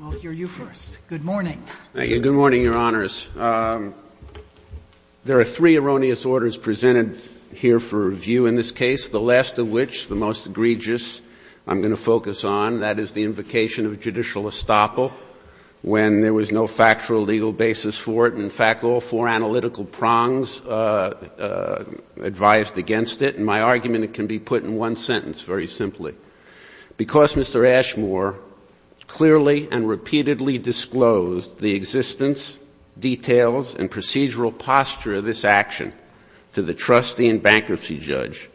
We'll hear you first. Good morning. Thank you. Good morning, Your Honors. There are three erroneous orders presented here for review in this case, the last of which, the most egregious I'm going to focus on, that is the invocation of judicial estoppel when there was no factual legal basis for it. In fact, all four analytical prongs advised against it. In my argument, it can be put in one sentence, very simply. Because Mr. Ashmore clearly and repeatedly disclosed the existence, details, and procedural posture of this action to the trustee and bankruptcy judge,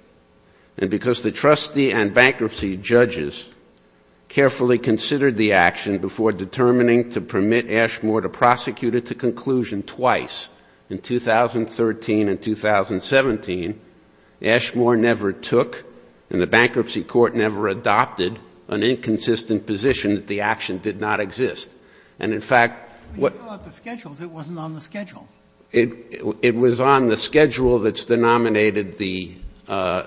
and because the trustee and bankruptcy judges carefully considered the action before determining to permit Ashmore to prosecute it to conclusion twice, in 2013 and 2017, Ashmore never took, and the bankruptcy court never adopted, an inconsistent position that the action did not exist. And, in fact, what — When you fill out the schedules, it wasn't on the schedule. It was on the schedule that's denominated the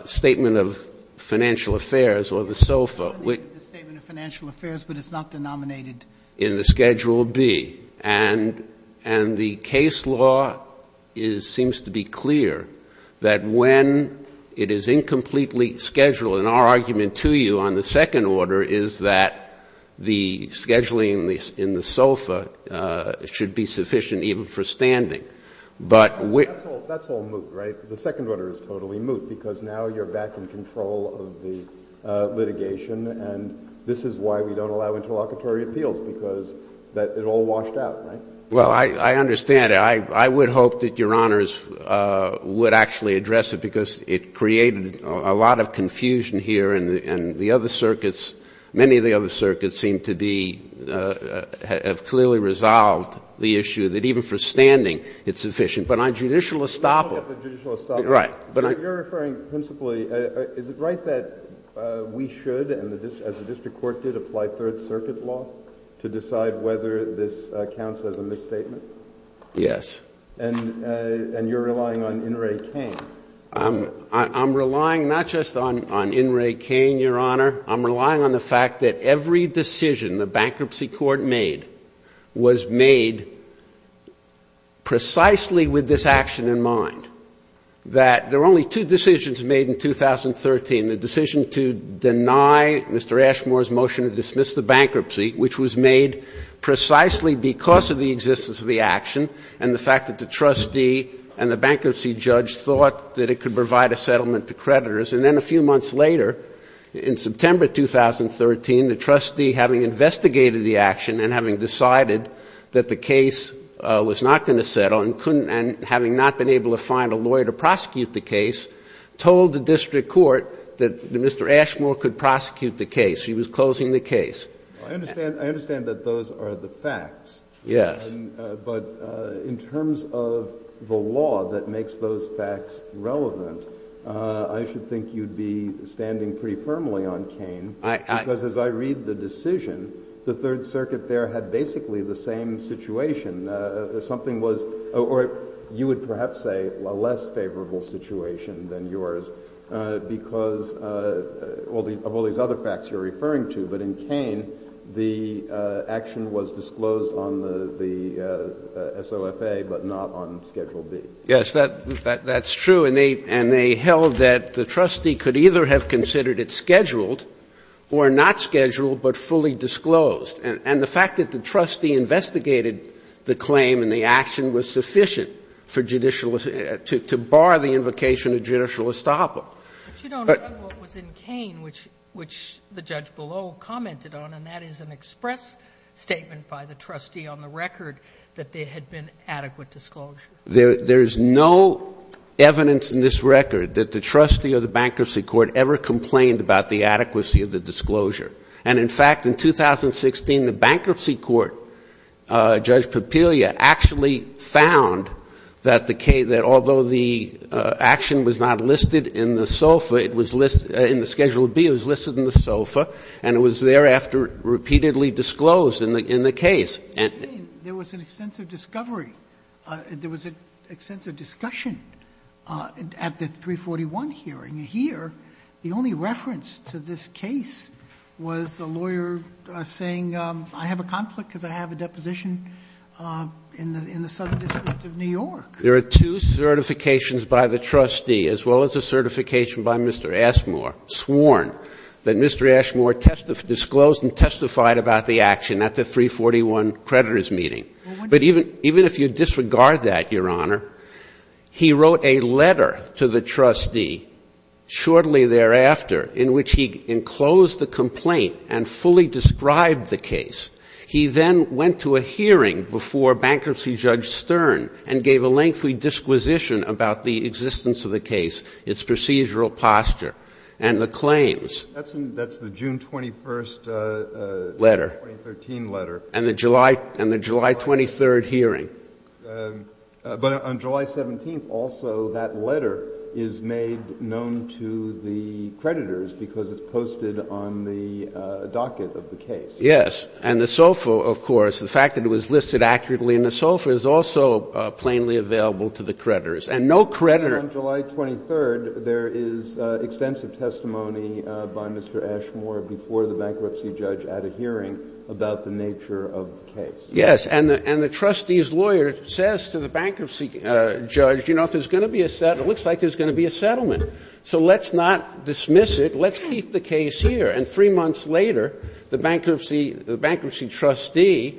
Statement of Financial Affairs or the SOFA. It's denominated the Statement of Financial Affairs, but it's not denominated — In the Schedule B. And the case law seems to be clear that when it is incompletely scheduled, and our argument to you on the second order is that the scheduling in the SOFA should be sufficient even for standing. But — That's all moot, right? The second order is totally moot because now you're back in control of the litigation, and this is why we don't allow interlocutory appeals, because it all washed out, right? Well, I understand. I would hope that Your Honors would actually address it because it created a lot of confusion here, and the other circuits, many of the other circuits seem to be — have clearly resolved the issue that even for standing, it's sufficient. But on judicial estoppel — Let's look at the judicial estoppel. Right. You're referring principally — is it right that we should, as the district court did, apply Third Circuit law to decide whether this counts as a misstatement? Yes. And you're relying on In re Kane. I'm relying not just on In re Kane, Your Honor. I'm relying on the fact that every decision the bankruptcy court made was made precisely with this action in mind, that there were only two decisions made in 2013, the decision to deny Mr. Ashmore's motion to dismiss the bankruptcy, which was made precisely because of the existence of the action and the fact that the trustee and the bankruptcy judge thought that it could provide a settlement to creditors. And then a few months later, in September 2013, the trustee, having investigated the action and having decided that the case was not going to settle and having not been able to find a lawyer to prosecute the case, told the district court that Mr. Ashmore could prosecute the case. He was closing the case. I understand that those are the facts. Yes. But in terms of the law that makes those facts relevant, I should think you'd be standing pretty firmly on Kane, because as I read the decision, the Third Circuit there had basically the same situation. Something was or you would perhaps say a less favorable situation than yours, because of all these other facts you're referring to. But in Kane, the action was disclosed on the SOFA, but not on Schedule B. Yes, that's true. And they held that the trustee could either have considered it scheduled or not scheduled, but fully disclosed. And the fact that the trustee investigated the claim and the action was sufficient to bar the invocation of judicial estoppel. But you don't have what was in Kane, which the judge below commented on, and that is an express statement by the trustee on the record that there had been adequate disclosure. There is no evidence in this record that the trustee of the bankruptcy court ever complained about the adequacy of the disclosure. And, in fact, in 2016, the bankruptcy court, Judge Papilia, actually found that although the action was not listed in the SOFA, in the Schedule B, it was listed in the SOFA, and it was thereafter repeatedly disclosed in the case. There was an extensive discovery. There was an extensive discussion at the 341 hearing. The only reference to this case was a lawyer saying, I have a conflict because I have a deposition in the Southern District of New York. There are two certifications by the trustee, as well as a certification by Mr. Ashmore, sworn that Mr. Ashmore disclosed and testified about the action at the 341 creditors' meeting. But even if you disregard that, Your Honor, he wrote a letter to the trustee shortly thereafter in which he enclosed the complaint and fully described the case. He then went to a hearing before Bankruptcy Judge Stern and gave a lengthy disquisition about the existence of the case, its procedural posture, and the claims. That's the June 21st of 2013 letter. And the July 23rd hearing. But on July 17th, also, that letter is made known to the creditors because it's posted on the docket of the case. Yes. And the SOFA, of course, the fact that it was listed accurately in the SOFA, is also plainly available to the creditors. And no creditor. And on July 23rd, there is extensive testimony by Mr. Ashmore before the Bankruptcy Judge at a hearing about the nature of the case. Yes. And the trustee's lawyer says to the Bankruptcy Judge, you know, if there's going to be a settlement, it looks like there's going to be a settlement. So let's not dismiss it. Let's keep the case here. And three months later, the Bankruptcy Trustee,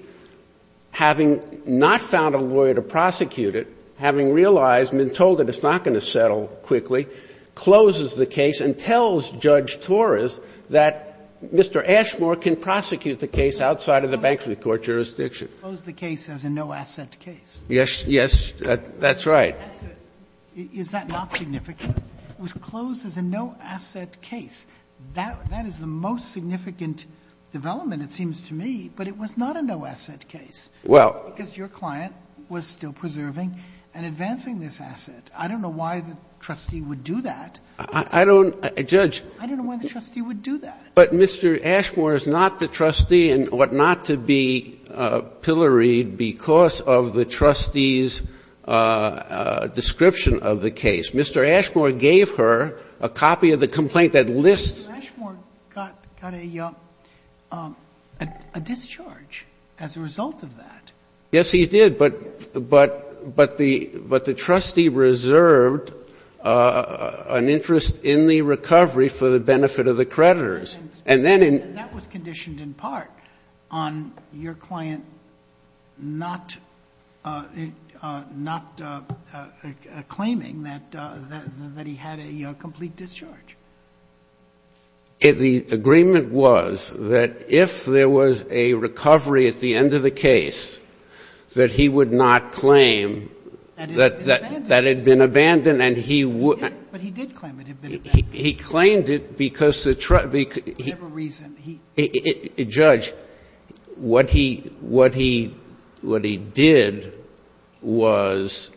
having not found a lawyer to prosecute it, having realized and been told that it's not going to settle quickly, closes the case and tells Judge Torres that Mr. Ashmore can prosecute the case outside of the Bankruptcy Court jurisdiction. Closed the case as a no-asset case. Yes. That's right. Is that not significant? It was closed as a no-asset case. That is the most significant development, it seems to me. But it was not a no-asset case. Well. Because your client was still preserving and advancing this asset. I don't know why the trustee would do that. I don't, Judge. I don't know why the trustee would do that. But Mr. Ashmore is not the trustee and ought not to be pilloried because of the trustee's description of the case. Mr. Ashmore gave her a copy of the complaint that lists. Mr. Ashmore got a discharge as a result of that. Yes, he did. But the trustee reserved an interest in the recovery for the benefit of the creditors. That was conditioned in part on your client not claiming that he had a complete discharge. The agreement was that if there was a recovery at the end of the case, that he would not claim that it had been abandoned. But he did claim it had been abandoned. He claimed it because the trustee. I have a reason. Judge, what he did was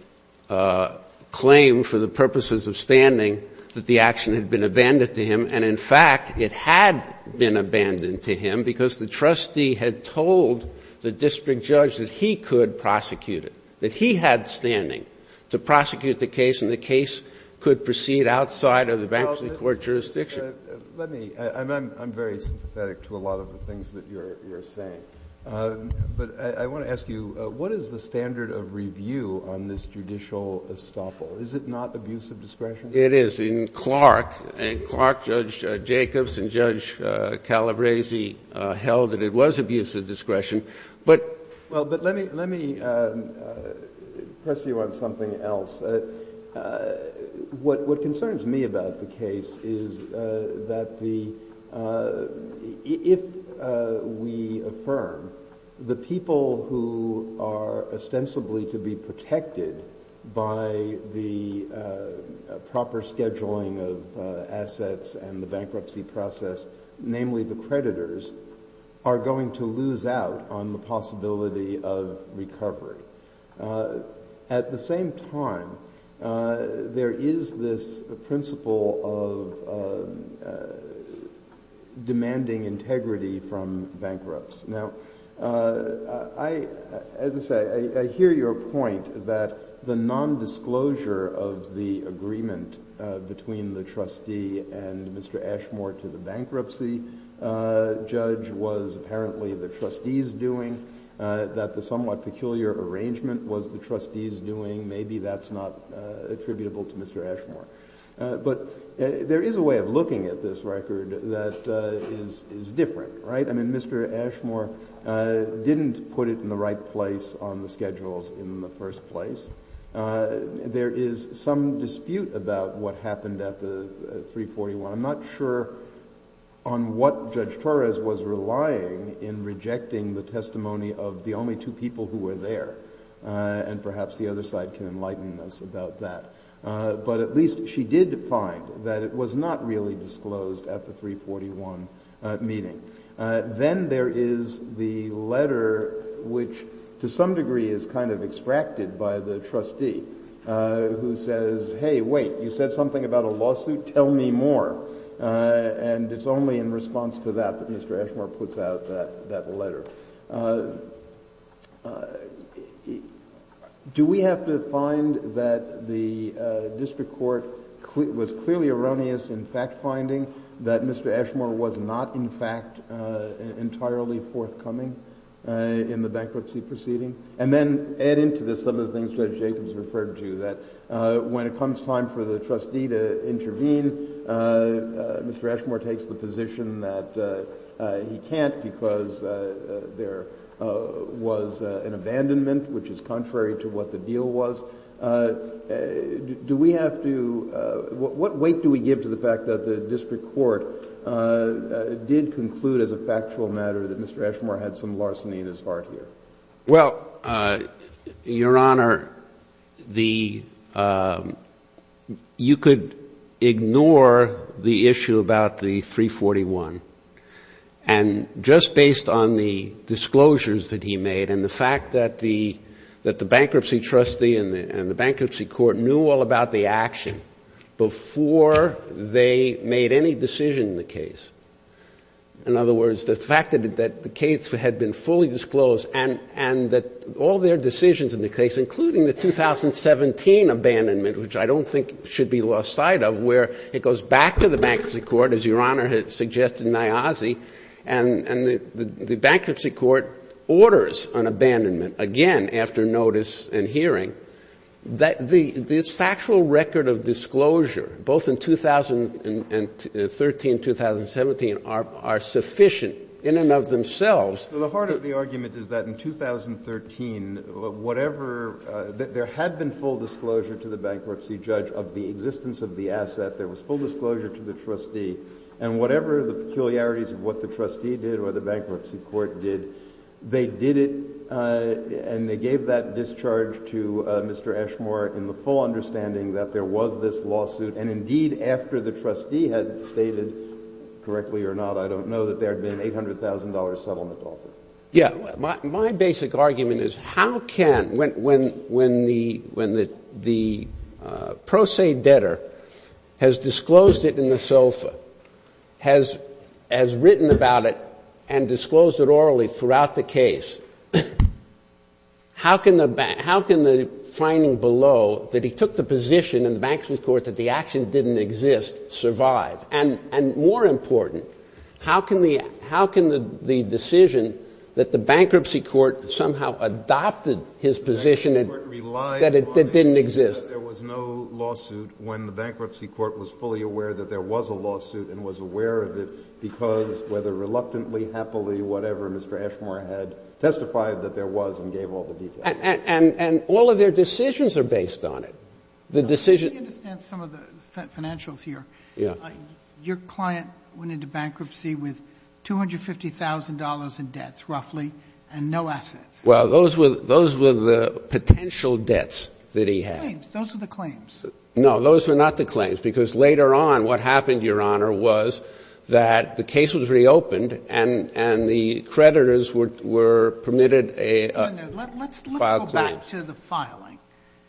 claim for the purposes of standing that the action had been abandoned to him. And, in fact, it had been abandoned to him because the trustee had told the district judge that he could prosecute it, that he had standing to prosecute the case and the case would be held in the court jurisdiction. Well, let me – I'm very sympathetic to a lot of the things that you're saying. But I want to ask you, what is the standard of review on this judicial estoppel? Is it not abuse of discretion? It is. In Clark, and Clark Judge Jacobs and Judge Calabresi held that it was abuse of discretion. But – Well, but let me press you on something else. What concerns me about the case is that the – if we affirm, the people who are ostensibly to be protected by the proper scheduling of assets and the bankruptcy process, namely the creditors, are going to lose out on the possibility of recovery. At the same time, there is this principle of demanding integrity from bankrupts. Now, I – as I say, I hear your point that the nondisclosure of the agreement between the trustee and Mr. Ashmore to the bankruptcy judge was apparently the trustee's doing, that the somewhat peculiar arrangement was the trustee's doing. Maybe that's not attributable to Mr. Ashmore. But there is a way of looking at this record that is different, right? I mean, Mr. Ashmore didn't put it in the right place on the schedules in the first place. There is some dispute about what happened at the 341. I'm not sure on what Judge Torres was relying in rejecting the testimony of the only two people who were there, and perhaps the other side can enlighten us about that. But at least she did find that it was not really disclosed at the 341 meeting. Then there is the letter, which to some degree is kind of extracted by the trustee, who says, hey, wait, you said something about a lawsuit, tell me more. And it's only in response to that that Mr. Ashmore puts out that letter. Do we have to find that the district court was clearly erroneous in fact finding that Mr. Ashmore was not in fact entirely forthcoming in the bankruptcy proceeding? And then add into this some of the things Judge Jacobs referred to, that when it comes time for the trustee to intervene, Mr. Ashmore takes the position that he can't because there was an abandonment, which is contrary to what the deal was. Do we have to – what weight do we give to the fact that the district court did conclude as a factual matter that Mr. Ashmore had some larceny in his heart here? Well, Your Honor, you could ignore the issue about the 341. And just based on the disclosures that he made and the fact that the bankruptcy trustee and the bankruptcy court knew all about the action before they made any decision in the case, in other words, the fact that the case had been fully disclosed and that all their decisions in the case, including the 2017 abandonment, which I don't think should be lost sight of, where it goes back to the bankruptcy court, as Your Honor had suggested in Niazi, and the bankruptcy court orders an abandonment again after notice and hearing, the factual record of disclosure, both in 2013 and 2017, are sufficient in and of themselves. The heart of the argument is that in 2013, whatever – there had been full disclosure to the bankruptcy judge of the existence of the asset. There was full disclosure to the trustee. And whatever the peculiarities of what the trustee did or the bankruptcy court did, they did it and they gave that discharge to Mr. Eshmore in the full understanding that there was this lawsuit. And indeed, after the trustee had stated, correctly or not, I don't know, that there had been an $800,000 settlement offer. Yeah. My basic argument is how can – when the pro se debtor has disclosed it in the sofa, has written about it and disclosed it orally throughout the case, how can the finding below that he took the position in the bankruptcy court that the action didn't exist survive? And more important, how can the decision that the bankruptcy court somehow adopted his position that it didn't exist? There was no lawsuit when the bankruptcy court was fully aware that there was a lawsuit and was aware of it because, whether reluctantly, happily, whatever, Mr. Eshmore had testified that there was and gave all the details. And all of their decisions are based on it. The decision – Let me understand some of the financials here. Yeah. Your client went into bankruptcy with $250,000 in debts, roughly, and no assets. Well, those were the potential debts that he had. Those were the claims. No, those were not the claims because later on what happened, Your Honor, was that the case was reopened and the creditors were permitted a – Let's go back to the filing.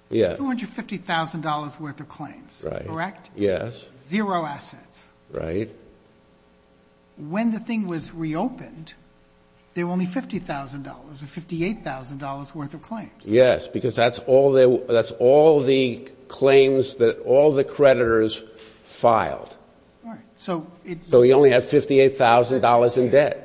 Yeah. $250,000 worth of claims. Correct? Yes. Zero assets. Right. When the thing was reopened, there were only $50,000 or $58,000 worth of claims. Yes, because that's all the claims that all the creditors filed. Right. So it – So he only had $58,000 in debt.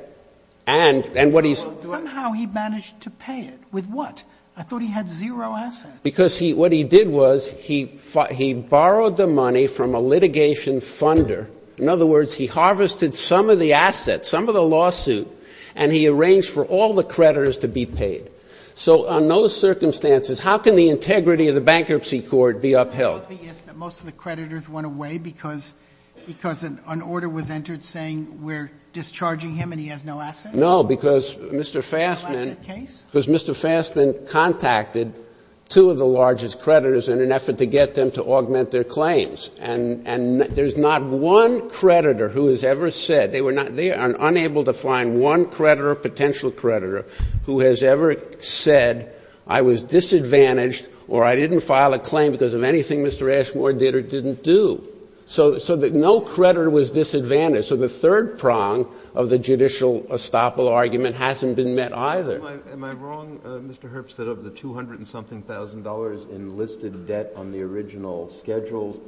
And what he – Somehow he managed to pay it. With what? I thought he had zero assets. Because what he did was he borrowed the money from a litigation funder. In other words, he harvested some of the assets, some of the lawsuit, and he arranged for all the creditors to be paid. So on those circumstances, how can the integrity of the bankruptcy court be upheld? Isn't it obvious that most of the creditors went away because an order was entered saying we're discharging him and he has no assets? No, because Mr. Fassman contacted two of the largest creditors in an effort to get them to augment their claims. And there's not one creditor who has ever said – They are unable to find one creditor, potential creditor, who has ever said I was disadvantaged or I didn't file a claim because of anything Mr. Ashmore did or didn't do. So no creditor was disadvantaged. So the third prong of the judicial estoppel argument hasn't been met either. Am I wrong, Mr. Herbst, that of the 200-and-something thousand dollars in listed debt on the original schedules,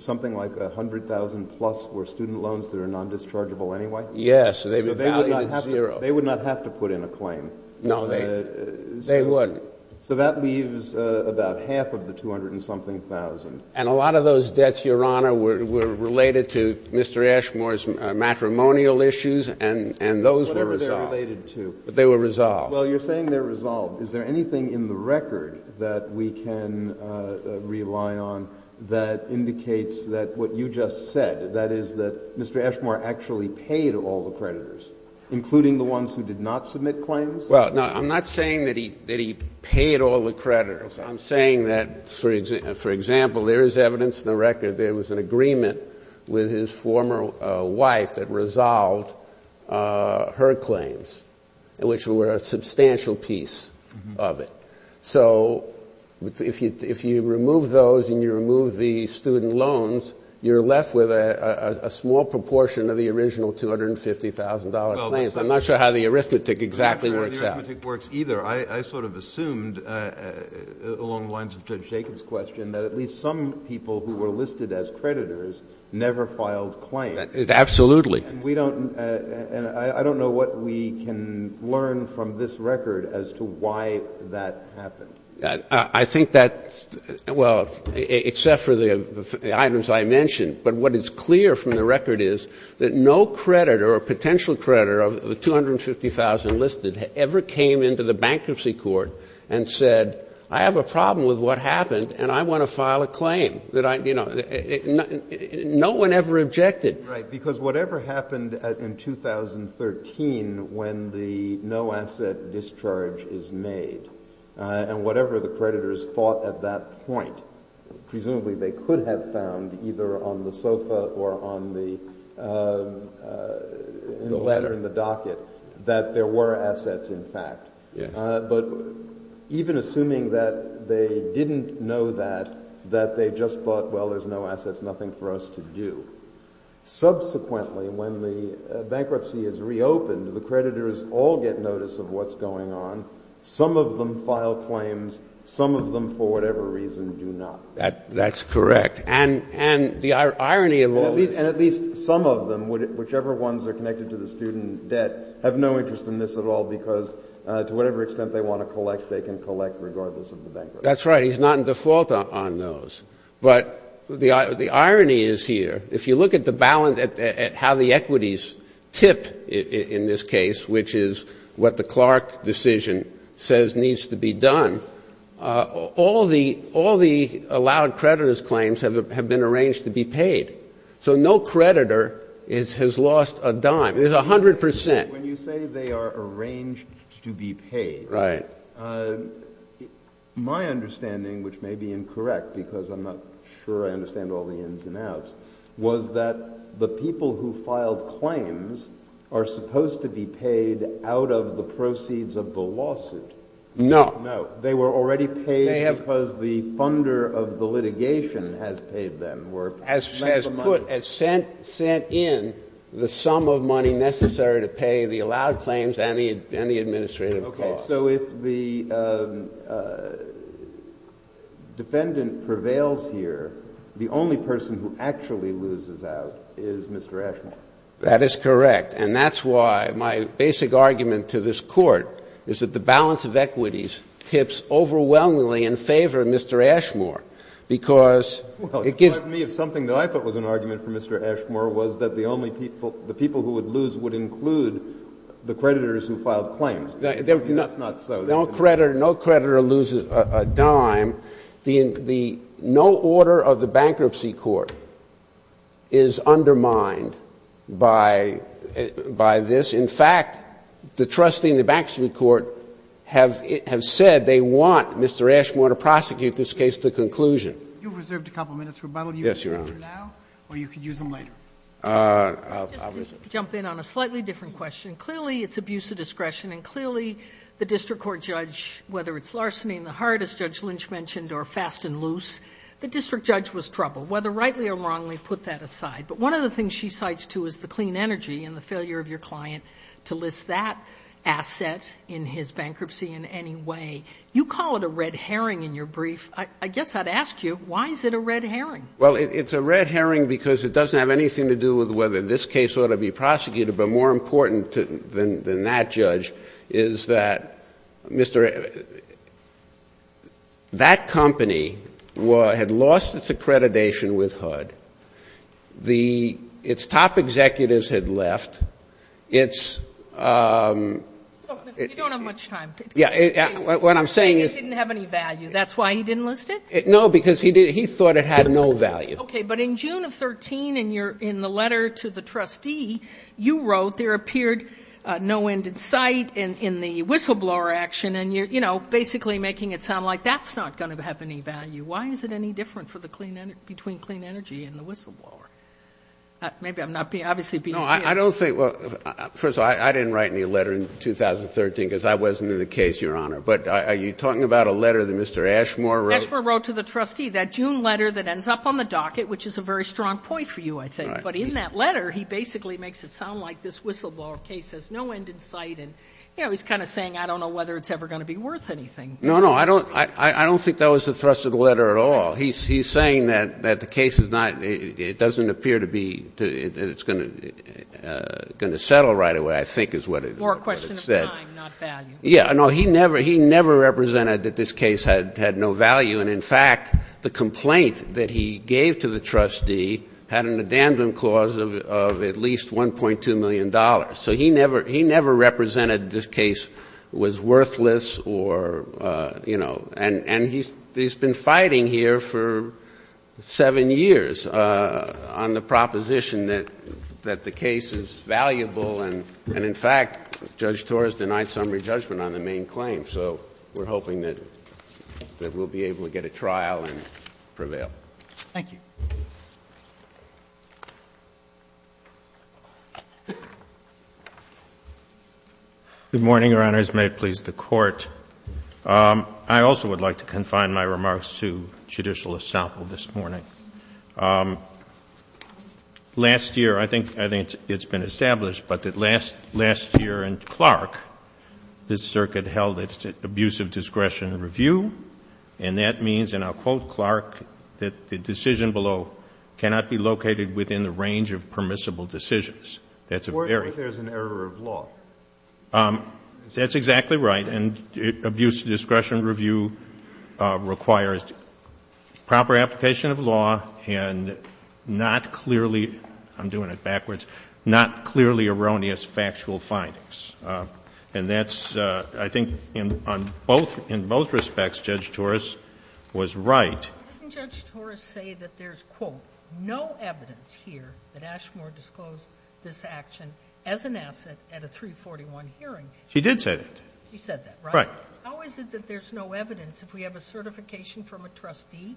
something like 100,000-plus were student loans that are non-dischargeable anyway? Yes. So they would not have to put in a claim. No, they wouldn't. So that leaves about half of the 200-and-something thousand. And a lot of those debts, Your Honor, were related to Mr. Ashmore's matrimonial issues, and those were resolved. Whatever they're related to. But they were resolved. Well, you're saying they're resolved. Is there anything in the record that we can rely on that indicates that what you just said, that is that Mr. Ashmore actually paid all the creditors, including the ones who did not submit claims? Well, no, I'm not saying that he paid all the creditors. I'm saying that, for example, there is evidence in the record there was an agreement with his former wife that resolved her claims, which were a substantial piece of it. So if you remove those and you remove the student loans, you're left with a small proportion of the original $250,000 claims. I'm not sure how the arithmetic exactly works out. I'm not sure how the arithmetic works either. I sort of assumed, along the lines of Judge Jacobs' question, that at least some people who were listed as creditors never filed claims. Absolutely. And I don't know what we can learn from this record as to why that happened. I think that, well, except for the items I mentioned, but what is clear from the record is that no creditor or potential creditor of the $250,000 listed ever came into the bankruptcy court and said, I have a problem with what happened and I want to file a claim. No one ever objected. Right, because whatever happened in 2013 when the no-asset discharge is made and whatever the creditors thought at that point, presumably they could have found either on the sofa or on the ladder in the docket, that there were assets in fact. But even assuming that they didn't know that, that they just thought, well, there's no assets, nothing for us to do. Subsequently, when the bankruptcy is reopened, the creditors all get notice of what's going on. Some of them file claims. Some of them, for whatever reason, do not. That's correct. And the irony of all this— And at least some of them, whichever ones are connected to the student debt, have no interest in this at all because to whatever extent they want to collect, they can collect regardless of the bankruptcy. That's right. He's not in default on those. But the irony is here, if you look at how the equities tip in this case, which is what the Clark decision says needs to be done, all the allowed creditors' claims have been arranged to be paid. So no creditor has lost a dime. There's 100 percent. When you say they are arranged to be paid, my understanding, which may be incorrect because I'm not sure I understand all the ins and outs, was that the people who filed claims are supposed to be paid out of the proceeds of the lawsuit. No. No. They were already paid because the funder of the litigation has paid them. As sent in the sum of money necessary to pay the allowed claims and the administrative costs. Okay. So if the defendant prevails here, the only person who actually loses out is Mr. Ashmore. That is correct. And that's why my basic argument to this Court is that the balance of equities tips overwhelmingly in favor of Mr. Ashmore because it gives— It would frighten me if something that I thought was an argument for Mr. Ashmore was that the people who would lose would include the creditors who filed claims. That's not so. No creditor loses a dime. No order of the Bankruptcy Court is undermined by this. In fact, the trustee and the Bankruptcy Court have said they want Mr. Ashmore to prosecute this case to conclusion. You've reserved a couple minutes, Rebuttal. Yes, Your Honor. You can use them now or you can use them later. I'll— Just to jump in on a slightly different question. Clearly, it's abuse of discretion and clearly the district court judge, whether it's larceny in the heart, as Judge Lynch mentioned, or fast and loose, the district judge was troubled. Whether rightly or wrongly, put that aside. But one of the things she cites, too, is the clean energy and the failure of your client to list that asset in his bankruptcy in any way. You call it a red herring in your brief. I guess I'd ask you, why is it a red herring? Well, it's a red herring because it doesn't have anything to do with whether this case ought to be prosecuted. But more important than that, Judge, is that Mr. — that company had lost its accreditation with HUD. Its top executives had left. Its— You don't have much time. Yeah. What I'm saying is— Is that why he didn't list it? No, because he thought it had no value. Okay. But in June of 2013, in the letter to the trustee, you wrote there appeared no end in sight in the whistleblower action. And you're, you know, basically making it sound like that's not going to have any value. Why is it any different for the clean — between clean energy and the whistleblower? Maybe I'm not being — obviously being— No, I don't think — well, first of all, I didn't write any letter in 2013 because I wasn't in the case, Your Honor. But are you talking about a letter that Mr. Ashmore wrote? Ashmore wrote to the trustee, that June letter that ends up on the docket, which is a very strong point for you, I think. But in that letter, he basically makes it sound like this whistleblower case has no end in sight. And, you know, he's kind of saying, I don't know whether it's ever going to be worth anything. No, no. I don't think that was the thrust of the letter at all. He's saying that the case is not — it doesn't appear to be — that it's going to settle right away, I think, is what it said. More a question of time, not value. Yeah. No, he never — he never represented that this case had no value. And, in fact, the complaint that he gave to the trustee had an addendum clause of at least $1.2 million. So he never — he never represented this case was worthless or, you know — and he's been fighting here for seven years on the proposition that the case is valuable. And, in fact, Judge Torres denied summary judgment on the main claim. So we're hoping that we'll be able to get a trial and prevail. Thank you. Good morning, Your Honors. May it please the Court. I also would like to confine my remarks to judicial establishment this morning. Last year, I think — I think it's been established, but that last year in Clark, this circuit held its abuse of discretion review. And that means, and I'll quote Clark, that the decision below cannot be located within the range of permissible decisions. That's a very — Where there's an error of law. That's exactly right. And abuse of discretion review requires proper application of law and not clearly — I'm doing it backwards — not clearly erroneous factual findings. And that's — I think on both — in both respects, Judge Torres was right. Didn't Judge Torres say that there's, quote, no evidence here that Ashmore disclosed this action as an asset at a 341 hearing? She did say that. She said that, right? Right. How is it that there's no evidence? If we have a certification from a trustee,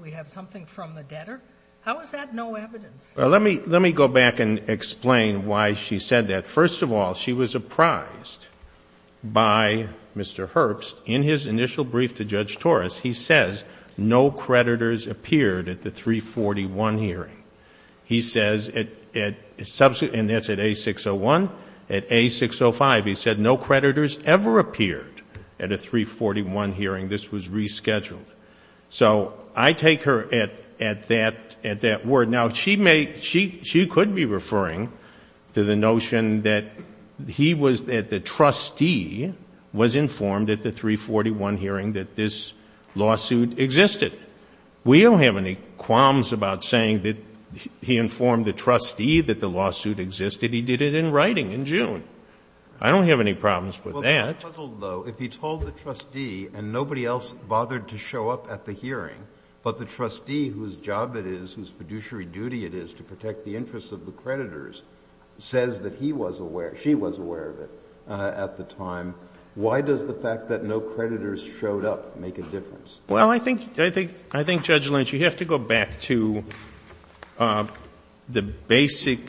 we have something from the debtor? How is that no evidence? Well, let me go back and explain why she said that. First of all, she was apprised by Mr. Herbst. In his initial brief to Judge Torres, he says no creditors appeared at the 341 hearing. He says — and that's at A601. At A605, he said no creditors ever appeared at a 341 hearing. This was rescheduled. So I take her at that word. Now, she could be referring to the notion that he was — that the trustee was informed at the 341 hearing that this lawsuit existed. We don't have any qualms about saying that he informed the trustee that the lawsuit existed. He did it in writing in June. I don't have any problems with that. Well, the puzzle, though, if he told the trustee and nobody else bothered to show up at the hearing, but the trustee whose job it is, whose fiduciary duty it is to protect the interests of the creditors, says that he was aware — she was aware of it at the time, why does the fact that no creditors showed up make a difference? Well, I think, Judge Lynch, you have to go back to the basic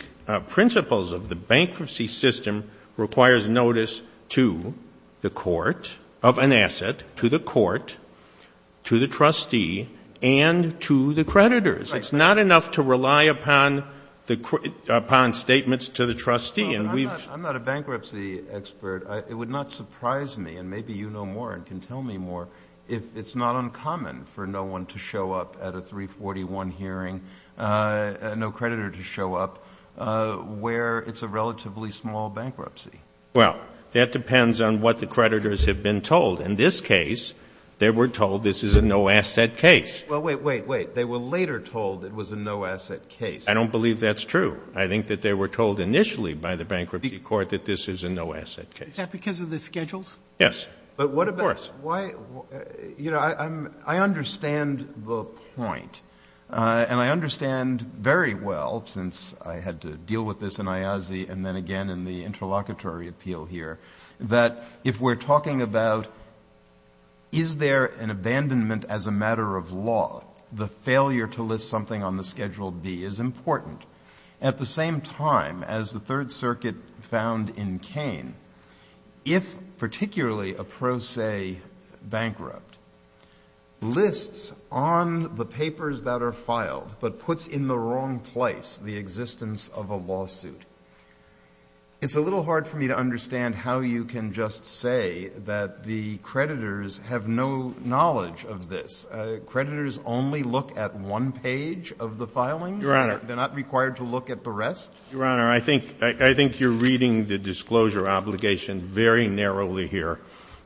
principles of the bankruptcy system, requires notice to the court of an asset, to the court, to the trustee, and to the creditors. It's not enough to rely upon statements to the trustee. I'm not a bankruptcy expert. It would not surprise me, and maybe you know more and can tell me more, if it's not uncommon for no one to show up at a 341 hearing, no creditor to show up, where it's a relatively small bankruptcy. Well, that depends on what the creditors have been told. In this case, they were told this is a no-asset case. Well, wait, wait, wait. They were later told it was a no-asset case. I don't believe that's true. I think that they were told initially by the bankruptcy court that this is a no-asset case. Is that because of the schedules? Yes. But what about — But why — you know, I understand the point, and I understand very well, since I had to deal with this in IASI and then again in the interlocutory appeal here, that if we're talking about is there an abandonment as a matter of law, the failure to list something on the Schedule B is important. At the same time, as the Third Circuit found in Kane, if particularly a pro se bankrupt lists on the papers that are filed but puts in the wrong place the existence of a lawsuit, it's a little hard for me to understand how you can just say that the creditors have no knowledge of this. Creditors only look at one page of the filings. Your Honor — They're not required to look at the rest. Your Honor, I think you're reading the disclosure obligation very narrowly here.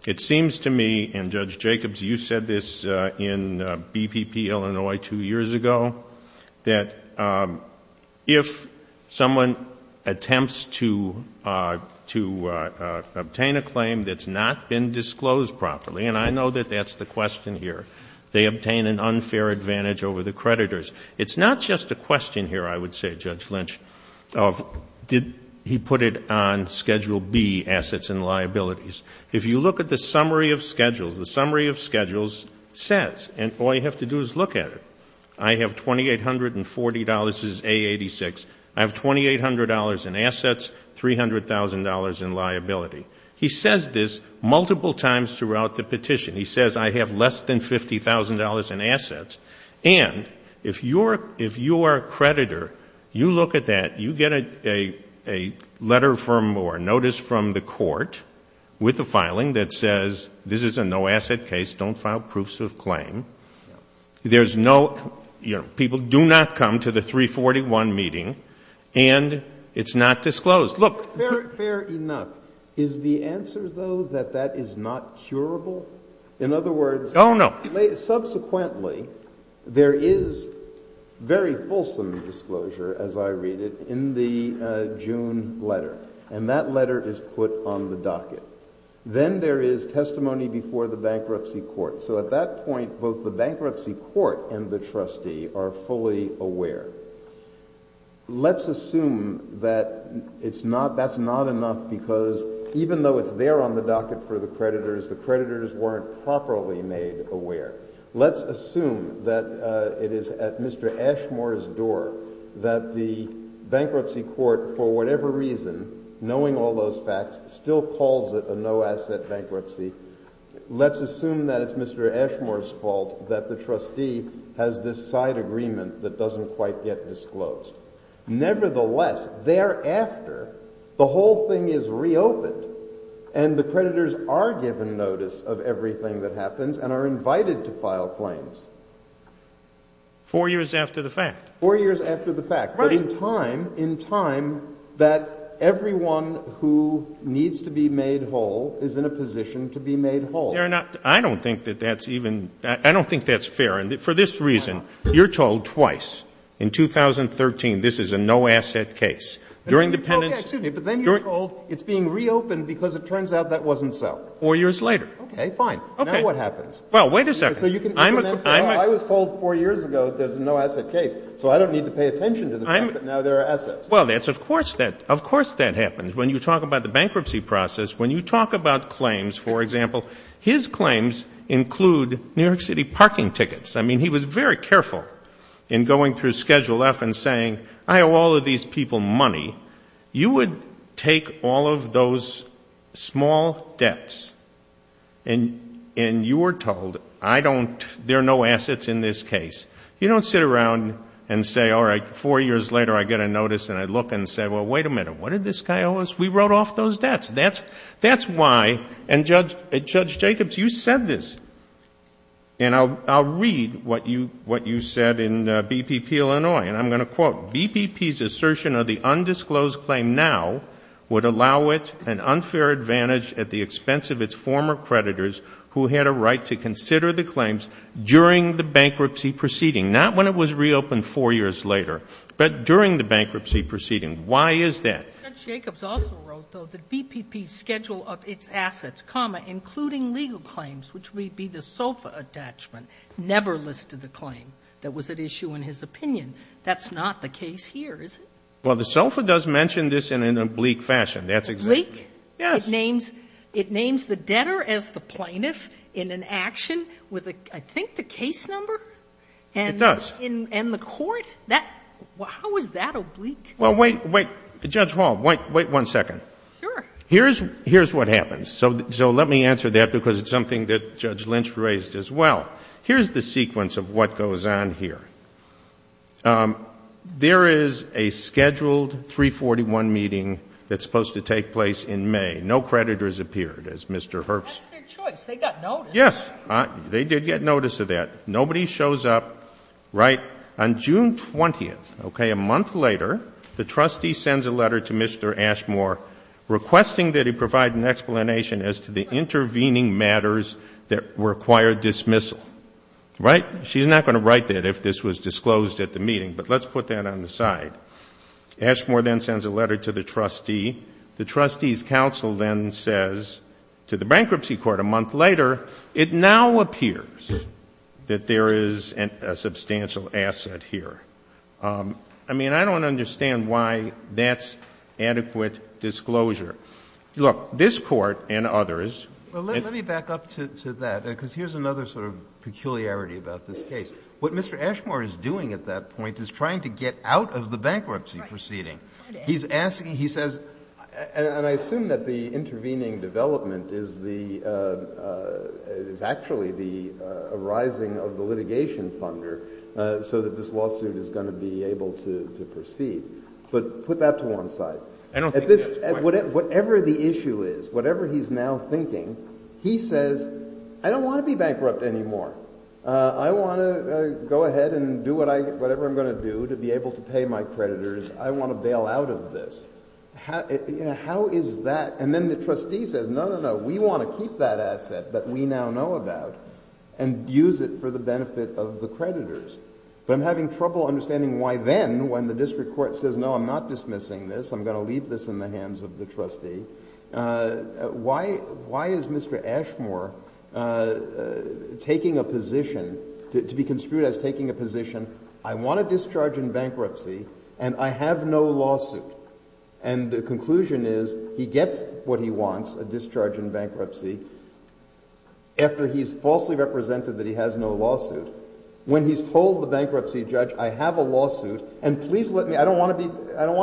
It seems to me, and Judge Jacobs, you said this in BPP Illinois two years ago, that if someone attempts to obtain a claim that's not been disclosed properly, and I know that that's the question here, they obtain an unfair advantage over the creditors. It's not just a question here, I would say, Judge Lynch, of did he put it on Schedule B, assets and liabilities. If you look at the summary of schedules, the summary of schedules says, and all you have to do is look at it, I have $2,840, this is A86, I have $2,800 in assets, $300,000 in liability. He says this multiple times throughout the petition. He says I have less than $50,000 in assets. And if you are a creditor, you look at that, you get a letter from or notice from the court with a filing that says, this is a no-asset case, don't file proofs of claim. There's no — people do not come to the 341 meeting, and it's not disclosed. Fair enough. Is the answer, though, that that is not curable? In other words — Oh, no. Subsequently, there is very fulsome disclosure, as I read it, in the June letter. And that letter is put on the docket. Then there is testimony before the bankruptcy court. So at that point, both the bankruptcy court and the trustee are fully aware. Let's assume that it's not — that's not enough because even though it's there on the docket for the creditors, the creditors weren't properly made aware. Let's assume that it is at Mr. Ashmore's door that the bankruptcy court, for whatever reason, knowing all those facts, still calls it a no-asset bankruptcy. Let's assume that it's Mr. Ashmore's fault that the trustee has this side agreement that doesn't quite get disclosed. Nevertheless, thereafter, the whole thing is reopened, and the creditors are given notice of everything that happens and are invited to file claims. Four years after the fact. Four years after the fact. Right. In time — in time that everyone who needs to be made whole is in a position to be made whole. Your Honor, I don't think that that's even — I don't think that's fair. For this reason, you're told twice in 2013 this is a no-asset case. During the penance — Excuse me, but then you're told it's being reopened because it turns out that wasn't so. Four years later. Okay, fine. Okay. Now what happens? Well, wait a second. I was told four years ago there's a no-asset case, so I don't need to pay attention to the fact that now there are assets. Well, of course that happens. When you talk about the bankruptcy process, when you talk about claims, for example, his claims include New York City parking tickets. I mean, he was very careful in going through Schedule F and saying, I owe all of these people money. You would take all of those small debts and you were told, I don't — there are no assets in this case. You don't sit around and say, all right, four years later I get a notice and I look and say, well, wait a minute. What did this guy owe us? We wrote off those debts. That's why — and, Judge Jacobs, you said this, and I'll read what you said in BPP Illinois, and I'm going to quote, BPP's assertion of the undisclosed claim now would allow it an unfair advantage at the expense of its former creditors who had a right to consider the claims during the bankruptcy proceeding, not when it was reopened four years later, but during the bankruptcy proceeding. Why is that? Judge Jacobs also wrote, though, that BPP's schedule of its assets, comma, including legal claims, which would be the SOFA attachment, never listed a claim that was at issue in his opinion. That's not the case here, is it? Well, the SOFA does mention this in an oblique fashion. That's exactly — Oblique? Yes. It names the debtor as the plaintiff in an action with, I think, the case number? It does. And the court? How is that oblique? Well, wait, wait. Judge Hall, wait one second. Sure. Here's what happens. So let me answer that because it's something that Judge Lynch raised as well. Here's the sequence of what goes on here. There is a scheduled 341 meeting that's supposed to take place in May. No creditors appeared, as Mr. Herbst — That's their choice. They got notice. Yes. They did get notice of that. Nobody shows up. Right? On June 20th, okay, a month later, the trustee sends a letter to Mr. Ashmore requesting that he provide an explanation as to the intervening matters that require dismissal. Right? She's not going to write that if this was disclosed at the meeting, but let's put that on the side. Ashmore then sends a letter to the trustee. The trustee's counsel then says to the bankruptcy court a month later, it now appears that there is a substantial asset here. I mean, I don't understand why that's adequate disclosure. Look, this Court and others — Let me back up to that because here's another sort of peculiarity about this case. What Mr. Ashmore is doing at that point is trying to get out of the bankruptcy proceeding. He's asking — he says — And I assume that the intervening development is the — But put that to one side. Whatever the issue is, whatever he's now thinking, he says, I don't want to be bankrupt anymore. I want to go ahead and do whatever I'm going to do to be able to pay my creditors. I want to bail out of this. How is that? And then the trustee says, no, no, no, we want to keep that asset that we now know about and use it for the benefit of the creditors. But I'm having trouble understanding why then, when the district court says, no, I'm not dismissing this, I'm going to leave this in the hands of the trustee, why is Mr. Ashmore taking a position — to be construed as taking a position, I want a discharge in bankruptcy and I have no lawsuit. And the conclusion is he gets what he wants, a discharge in bankruptcy, after he's falsely represented that he has no lawsuit. When he's told the bankruptcy judge, I have a lawsuit and please let me — I don't want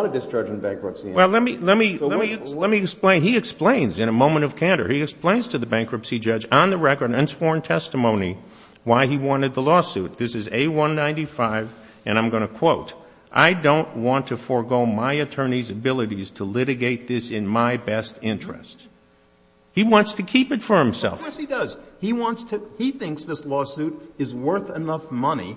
a discharge in bankruptcy. Well, let me explain. He explains in a moment of candor. He explains to the bankruptcy judge on the record and sworn testimony why he wanted the lawsuit. This is A195, and I'm going to quote, I don't want to forego my attorney's abilities to litigate this in my best interest. He wants to keep it for himself. Yes, he does. He wants to — he thinks this lawsuit is worth enough money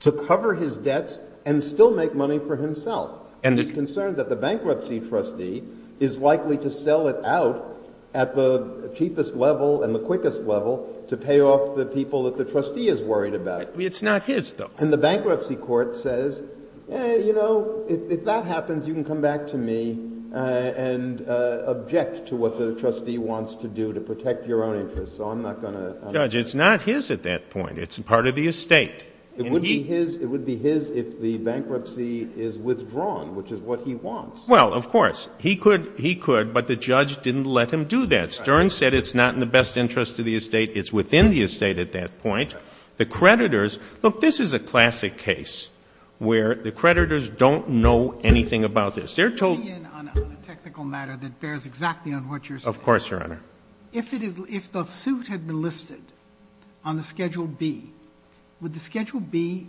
to cover his debts and still make money for himself. And he's concerned that the bankruptcy trustee is likely to sell it out at the cheapest level and the quickest level to pay off the people that the trustee is worried about. It's not his, though. And the bankruptcy court says, you know, if that happens, you can come back to me and object to what the trustee wants to do to protect your own interests, so I'm not going to — Judge, it's not his at that point. It's part of the estate. It would be his if the bankruptcy is withdrawn, which is what he wants. Well, of course. He could, but the judge didn't let him do that. Stern said it's not in the best interest of the estate. It's within the estate at that point. The creditors — look, this is a classic case where the creditors don't know anything about this. They're told — Let me in on a technical matter that bears exactly on what you're saying. Of course, Your Honor. If the suit had been listed on the Schedule B, would the Schedule B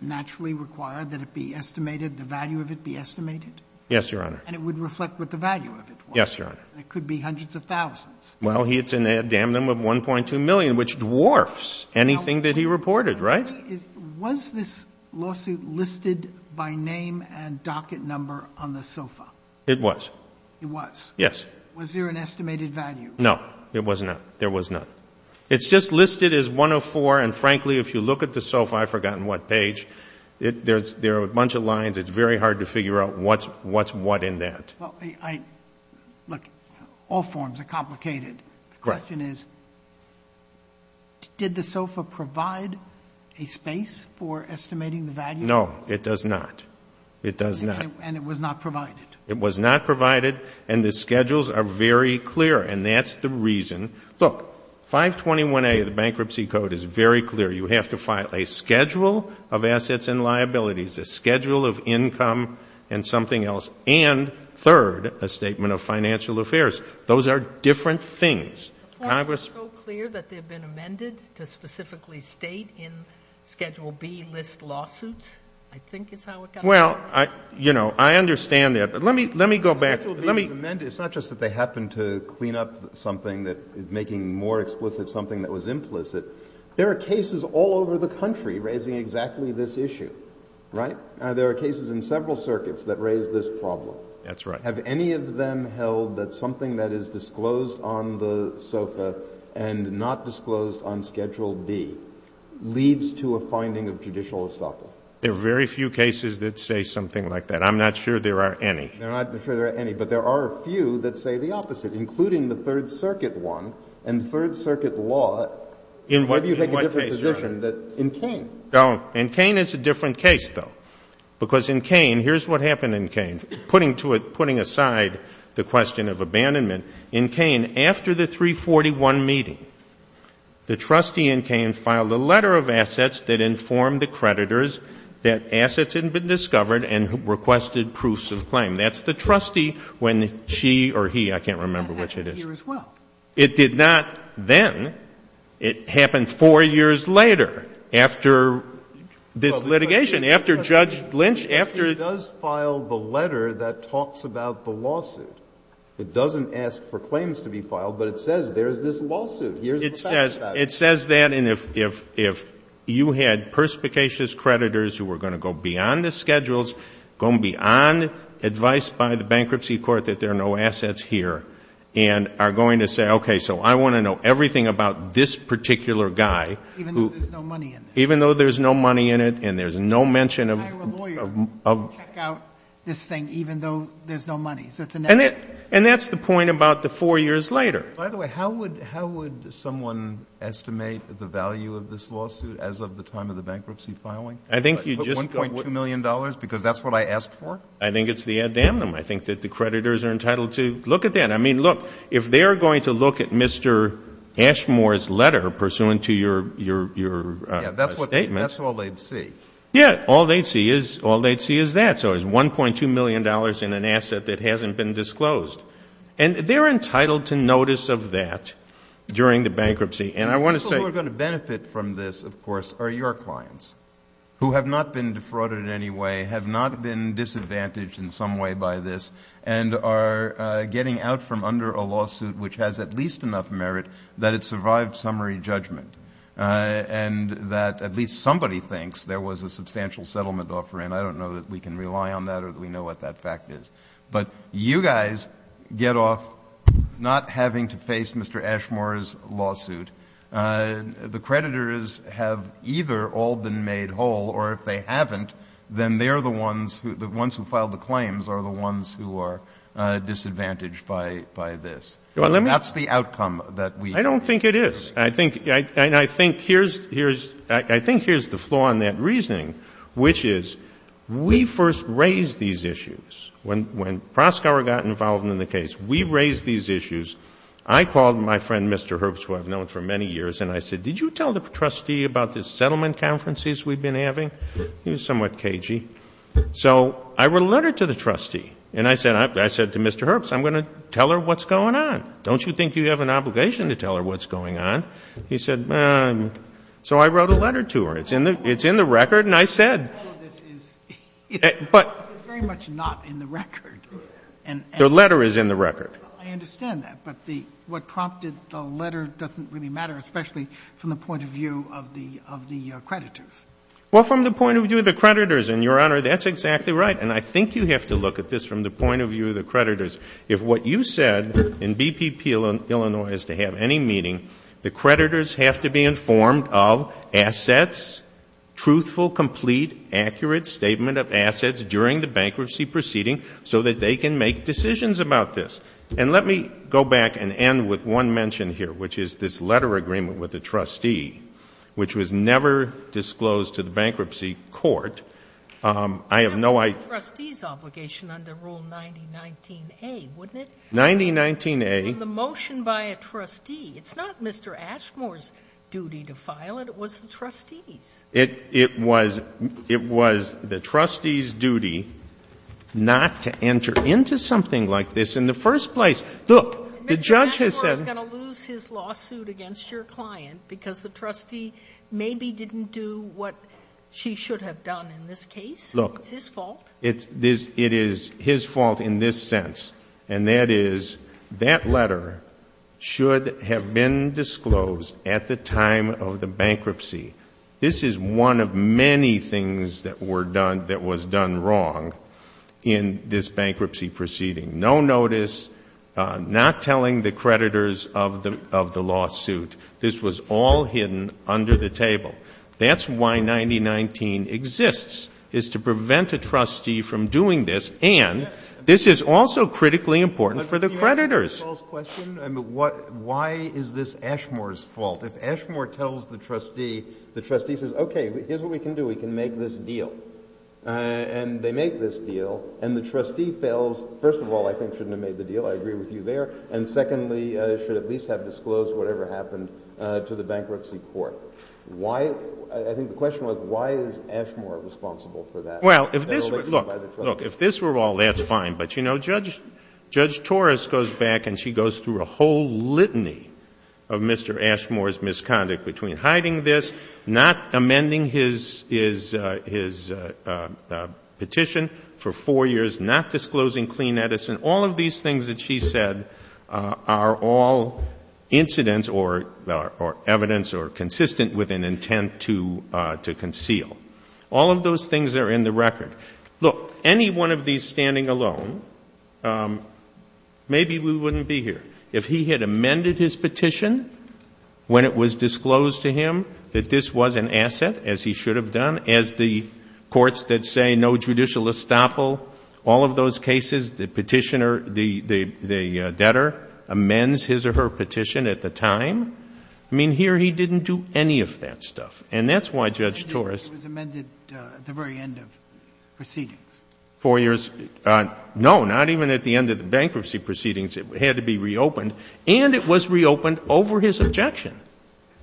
naturally require that it be estimated, the value of it be estimated? Yes, Your Honor. And it would reflect what the value of it was? Yes, Your Honor. It could be hundreds of thousands. Well, it's in a damnum of $1.2 million, which dwarfs anything that he reported, right? Was this lawsuit listed by name and docket number on the SOFA? It was. It was? Yes. Was there an estimated value? No, there was not. It's just listed as 104, and frankly, if you look at the SOFA, I've forgotten what page, there are a bunch of lines. It's very hard to figure out what's what in that. Well, look, all forms are complicated. The question is, did the SOFA provide a space for estimating the value? No, it does not. It does not. And it was not provided? It was not provided, and the schedules are very clear, and that's the reason. Look, 521A of the Bankruptcy Code is very clear. You have to file a schedule of assets and liabilities, a schedule of income and something else, and third, a statement of financial affairs. Those are different things. Why is it so clear that they've been amended to specifically state in Schedule B list lawsuits? I think is how it got there. Well, you know, I understand that, but let me go back. Schedule B is amended. It's not just that they happened to clean up something that is making more explicit something that was implicit. There are cases all over the country raising exactly this issue, right? There are cases in several circuits that raise this problem. That's right. Have any of them held that something that is disclosed on the SOFA and not disclosed on Schedule B leads to a finding of judicial estoppel? There are very few cases that say something like that. I'm not sure there are any. I'm not sure there are any, but there are a few that say the opposite, including the Third Circuit one and Third Circuit law. In what case, Your Honor? In Kane. Oh, in Kane it's a different case, though, because in Kane, here's what happened in Kane. Putting aside the question of abandonment, in Kane, after the 341 meeting, the trustee in Kane filed a letter of assets that informed the creditors that assets had been discovered and requested proofs of claim. That's the trustee when she or he, I can't remember which it is. That happened here as well. It did not then. It happened four years later, after this litigation, after Judge Lynch, after the lawsuit. Well, the question is, if he does file the letter that talks about the lawsuit, it doesn't ask for claims to be filed, but it says there's this lawsuit, here's the facts about it. It says that, and if you had perspicacious creditors who were going to go beyond the schedules, go beyond advice by the bankruptcy court that there are no assets here, and are going to say, okay, so I want to know everything about this particular guy. Even though there's no money in it. Even though there's no money in it, and there's no mention of... And that's the point about the four years later. By the way, how would someone estimate the value of this lawsuit as of the time of the bankruptcy filing? I think you just... $1.2 million, because that's what I asked for? I think it's the ad damnum. I think that the creditors are entitled to... Look at that. I mean, look, if they're going to look at Mr. Ashmore's letter pursuant to your statement... Yeah, that's all they'd see. Yeah, all they'd see is that. $1.2 million in an asset that hasn't been disclosed. And they're entitled to notice of that during the bankruptcy. And I want to say... The people who are going to benefit from this, of course, are your clients, who have not been defrauded in any way, have not been disadvantaged in some way by this, and are getting out from under a lawsuit which has at least enough merit that it survived summary judgment, and that at least somebody thinks there was a substantial settlement offer in. I don't know that we can rely on that or that we know what that fact is. But you guys get off not having to face Mr. Ashmore's lawsuit. The creditors have either all been made whole, or if they haven't, then they're the ones who filed the claims are the ones who are disadvantaged by this. That's the outcome that we... I don't think it is. I think here's the flaw in that reasoning, which is we first raised these issues. When Proskauer got involved in the case, we raised these issues. I called my friend, Mr. Herbst, who I've known for many years, and I said, did you tell the trustee about the settlement conferences we've been having? He was somewhat cagey. So I wrote a letter to the trustee, and I said to Mr. Herbst, I'm going to tell her what's going on. Don't you think you have an obligation to tell her what's going on? He said, so I wrote a letter to her. It's in the record, and I said... All of this is very much not in the record. The letter is in the record. I understand that. But what prompted the letter doesn't really matter, especially from the point of view of the creditors. Well, from the point of view of the creditors, and, Your Honor, that's exactly right. And I think you have to look at this from the point of view of the creditors. If what you said in BPP Illinois is to have any meeting, the creditors have to be informed of assets, truthful, complete, accurate statement of assets during the bankruptcy proceeding so that they can make decisions about this. And let me go back and end with one mention here, which is this letter agreement with the trustee, which was never disclosed to the bankruptcy court. It would have been the trustee's obligation under Rule 9019A, wouldn't it? 9019A. The motion by a trustee. It's not Mr. Ashmore's duty to file it. It was the trustee's. It was the trustee's duty not to enter into something like this in the first place. Look, the judge has said... Mr. Ashmore is going to lose his lawsuit against your client because the trustee maybe didn't do what she should have done in this case. Look. It's his fault. It is his fault in this sense, and that is that letter should have been disclosed at the time of the bankruptcy. This is one of many things that was done wrong in this bankruptcy proceeding. No notice, not telling the creditors of the lawsuit. This was all hidden under the table. That's why 9019 exists, is to prevent a trustee from doing this, and this is also critically important for the creditors. Why is this Ashmore's fault? If Ashmore tells the trustee, the trustee says, okay, here's what we can do. We can make this deal. And they make this deal, and the trustee fails. First of all, I think shouldn't have made the deal. I agree with you there. And secondly, should at least have disclosed whatever happened to the bankruptcy court. I think the question was, why is Ashmore responsible for that? Well, if this were all, that's fine. But, you know, Judge Torres goes back, and she goes through a whole litany of Mr. Ashmore's misconduct between hiding this, not amending his petition for four years, not disclosing Clean Edison, all of these things that she said are all incidents or evidence or consistent with an intent to conceal. All of those things are in the record. Look, any one of these standing alone, maybe we wouldn't be here. If he had amended his petition when it was disclosed to him that this was an asset, as he should have done, as the courts that say no judicial estoppel, all of those cases, the petitioner, the debtor amends his or her petition at the time. I mean, here he didn't do any of that stuff. And that's why Judge Torres ---- He was amended at the very end of proceedings. Four years. No, not even at the end of the bankruptcy proceedings. It had to be reopened. And it was reopened over his objection,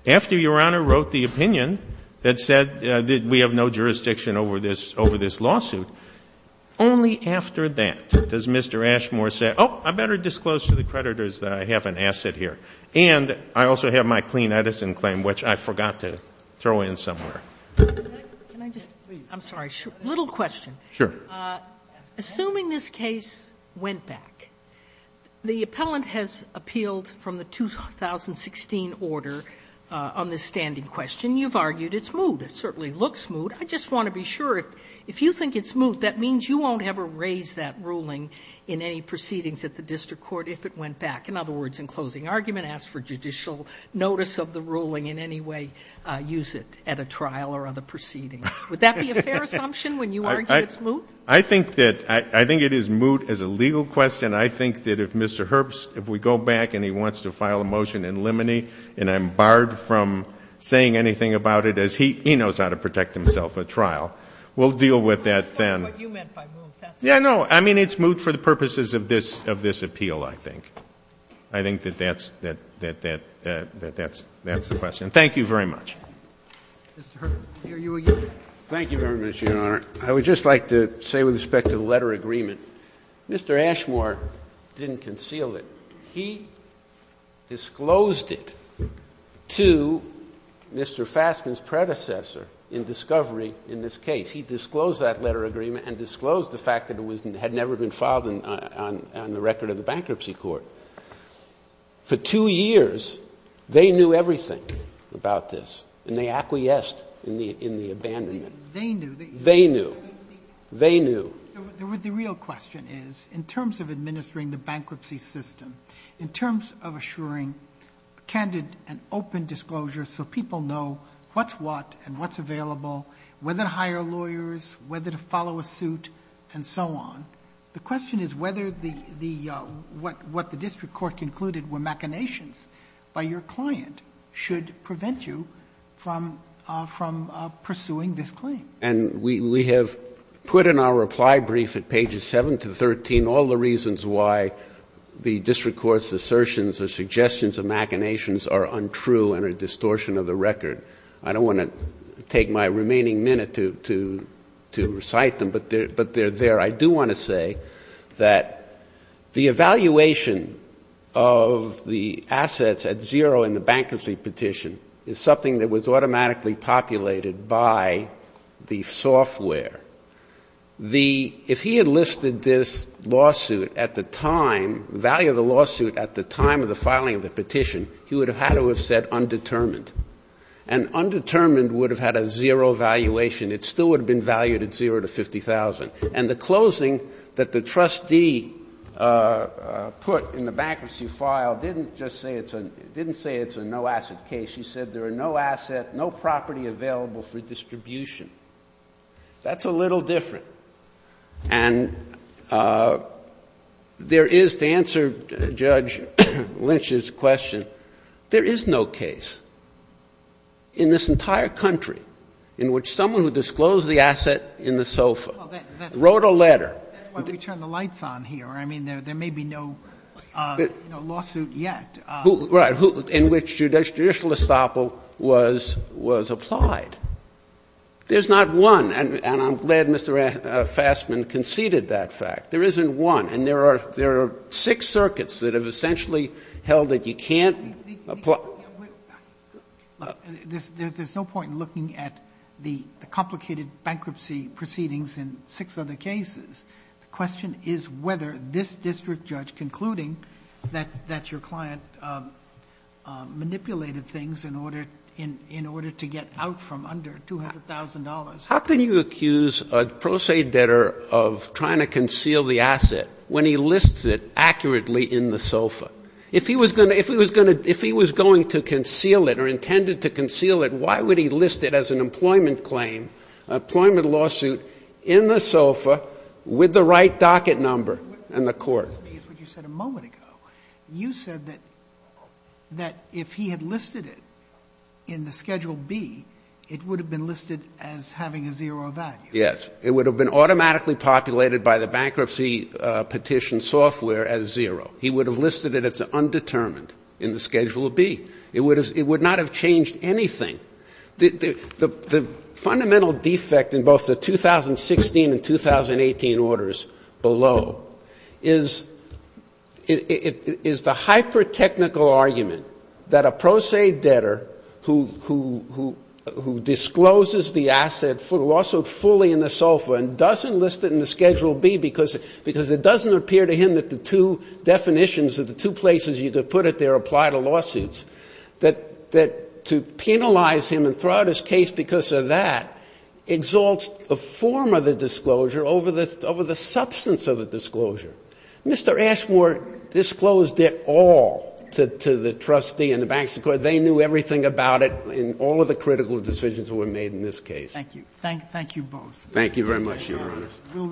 after Your Honor wrote the opinion that said we have no jurisdiction over this lawsuit. Only after that does Mr. Ashmore say, oh, I better disclose to the creditors that I have an asset here. And I also have my Clean Edison claim, which I forgot to throw in somewhere. Can I just ---- Please. I'm sorry. A little question. Sure. Assuming this case went back, the appellant has appealed from the 2016 order on this standing question. You've argued it's moot. It certainly looks moot. I just want to be sure. If you think it's moot, that means you won't ever raise that ruling in any proceedings at the district court if it went back. In other words, in closing argument, ask for judicial notice of the ruling in any way, use it at a trial or other proceeding. Would that be a fair assumption when you argue it's moot? I think it is moot as a legal question. I think that if Mr. Herbst, if we go back and he wants to file a motion in limine, and I'm barred from saying anything about it as he knows how to protect himself at trial, we'll deal with that then. That's not what you meant by moot. Yeah, no. I mean, it's moot for the purposes of this appeal, I think. I think that that's the question. Thank you very much. Mr. Herbst. Thank you very much, Your Honor. I would just like to say with respect to the letter agreement, Mr. Ashmore didn't conceal it. He disclosed it to Mr. Fassman's predecessor in discovery in this case. He disclosed that letter agreement and disclosed the fact that it had never been filed on the record of the bankruptcy court. For two years, they knew everything about this, and they acquiesced in the abandonment. They knew. They knew. They knew. The real question is, in terms of administering the bankruptcy system, in terms of assuring candid and open disclosure so people know what's what and what's available, whether to hire lawyers, whether to follow a suit, and so on, the question is whether what the district court concluded were machinations by your client should prevent you from pursuing this claim. And we have put in our reply brief at pages 7 to 13 all the reasons why the district court's assertions or suggestions of machinations are untrue and are a distortion of the record. I don't want to take my remaining minute to recite them, but they're there. I do want to say that the evaluation of the assets at zero in the bankruptcy petition is something that was automatically populated by the software. If he had listed this lawsuit at the time, the value of the lawsuit at the time of the filing of the petition, he would have had to have said undetermined. And undetermined would have had a zero valuation. It still would have been valued at zero to $50,000. And the closing that the trustee put in the bankruptcy file didn't just say it's a no-asset case. He said there are no assets, no property available for distribution. That's a little different. And there is, to answer Judge Lynch's question, there is no case in this entire country in which someone who disclosed the asset in the SOFA wrote a letter. That's why we turned the lights on here. I mean, there may be no lawsuit yet. Right, in which judicial estoppel was applied. There's not one. And I'm glad Mr. Fassman conceded that fact. There isn't one. And there are six circuits that have essentially held that you can't apply. There's no point in looking at the complicated bankruptcy proceedings in six other cases. The question is whether this district judge concluding that your client manipulated things in order to get out from under $200,000. How can you accuse a pro se debtor of trying to conceal the asset when he lists it accurately in the SOFA? If he was going to conceal it or intended to conceal it, why would he list it as an employment claim, employment lawsuit in the SOFA with the right docket number in the court? What you said a moment ago, you said that if he had listed it in the Schedule B, it would have been listed as having a zero value. Yes, it would have been automatically populated by the bankruptcy petition software as zero. He would have listed it as undetermined in the Schedule B. It would not have changed anything. The fundamental defect in both the 2016 and 2018 orders below is the hyper-technical argument that a pro se debtor who discloses the asset, the lawsuit fully in the SOFA and doesn't list it in the Schedule B because it doesn't appear to him that the two definitions, or the two places you could put it there apply to lawsuits, that to penalize him and throw out his case because of that exalts the form of the disclosure over the substance of the disclosure. Mr. Ashmore disclosed it all to the trustee and the bankruptcy court. They knew everything about it in all of the critical decisions that were made in this case. Thank you. Thank you both. Thank you very much, Your Honor.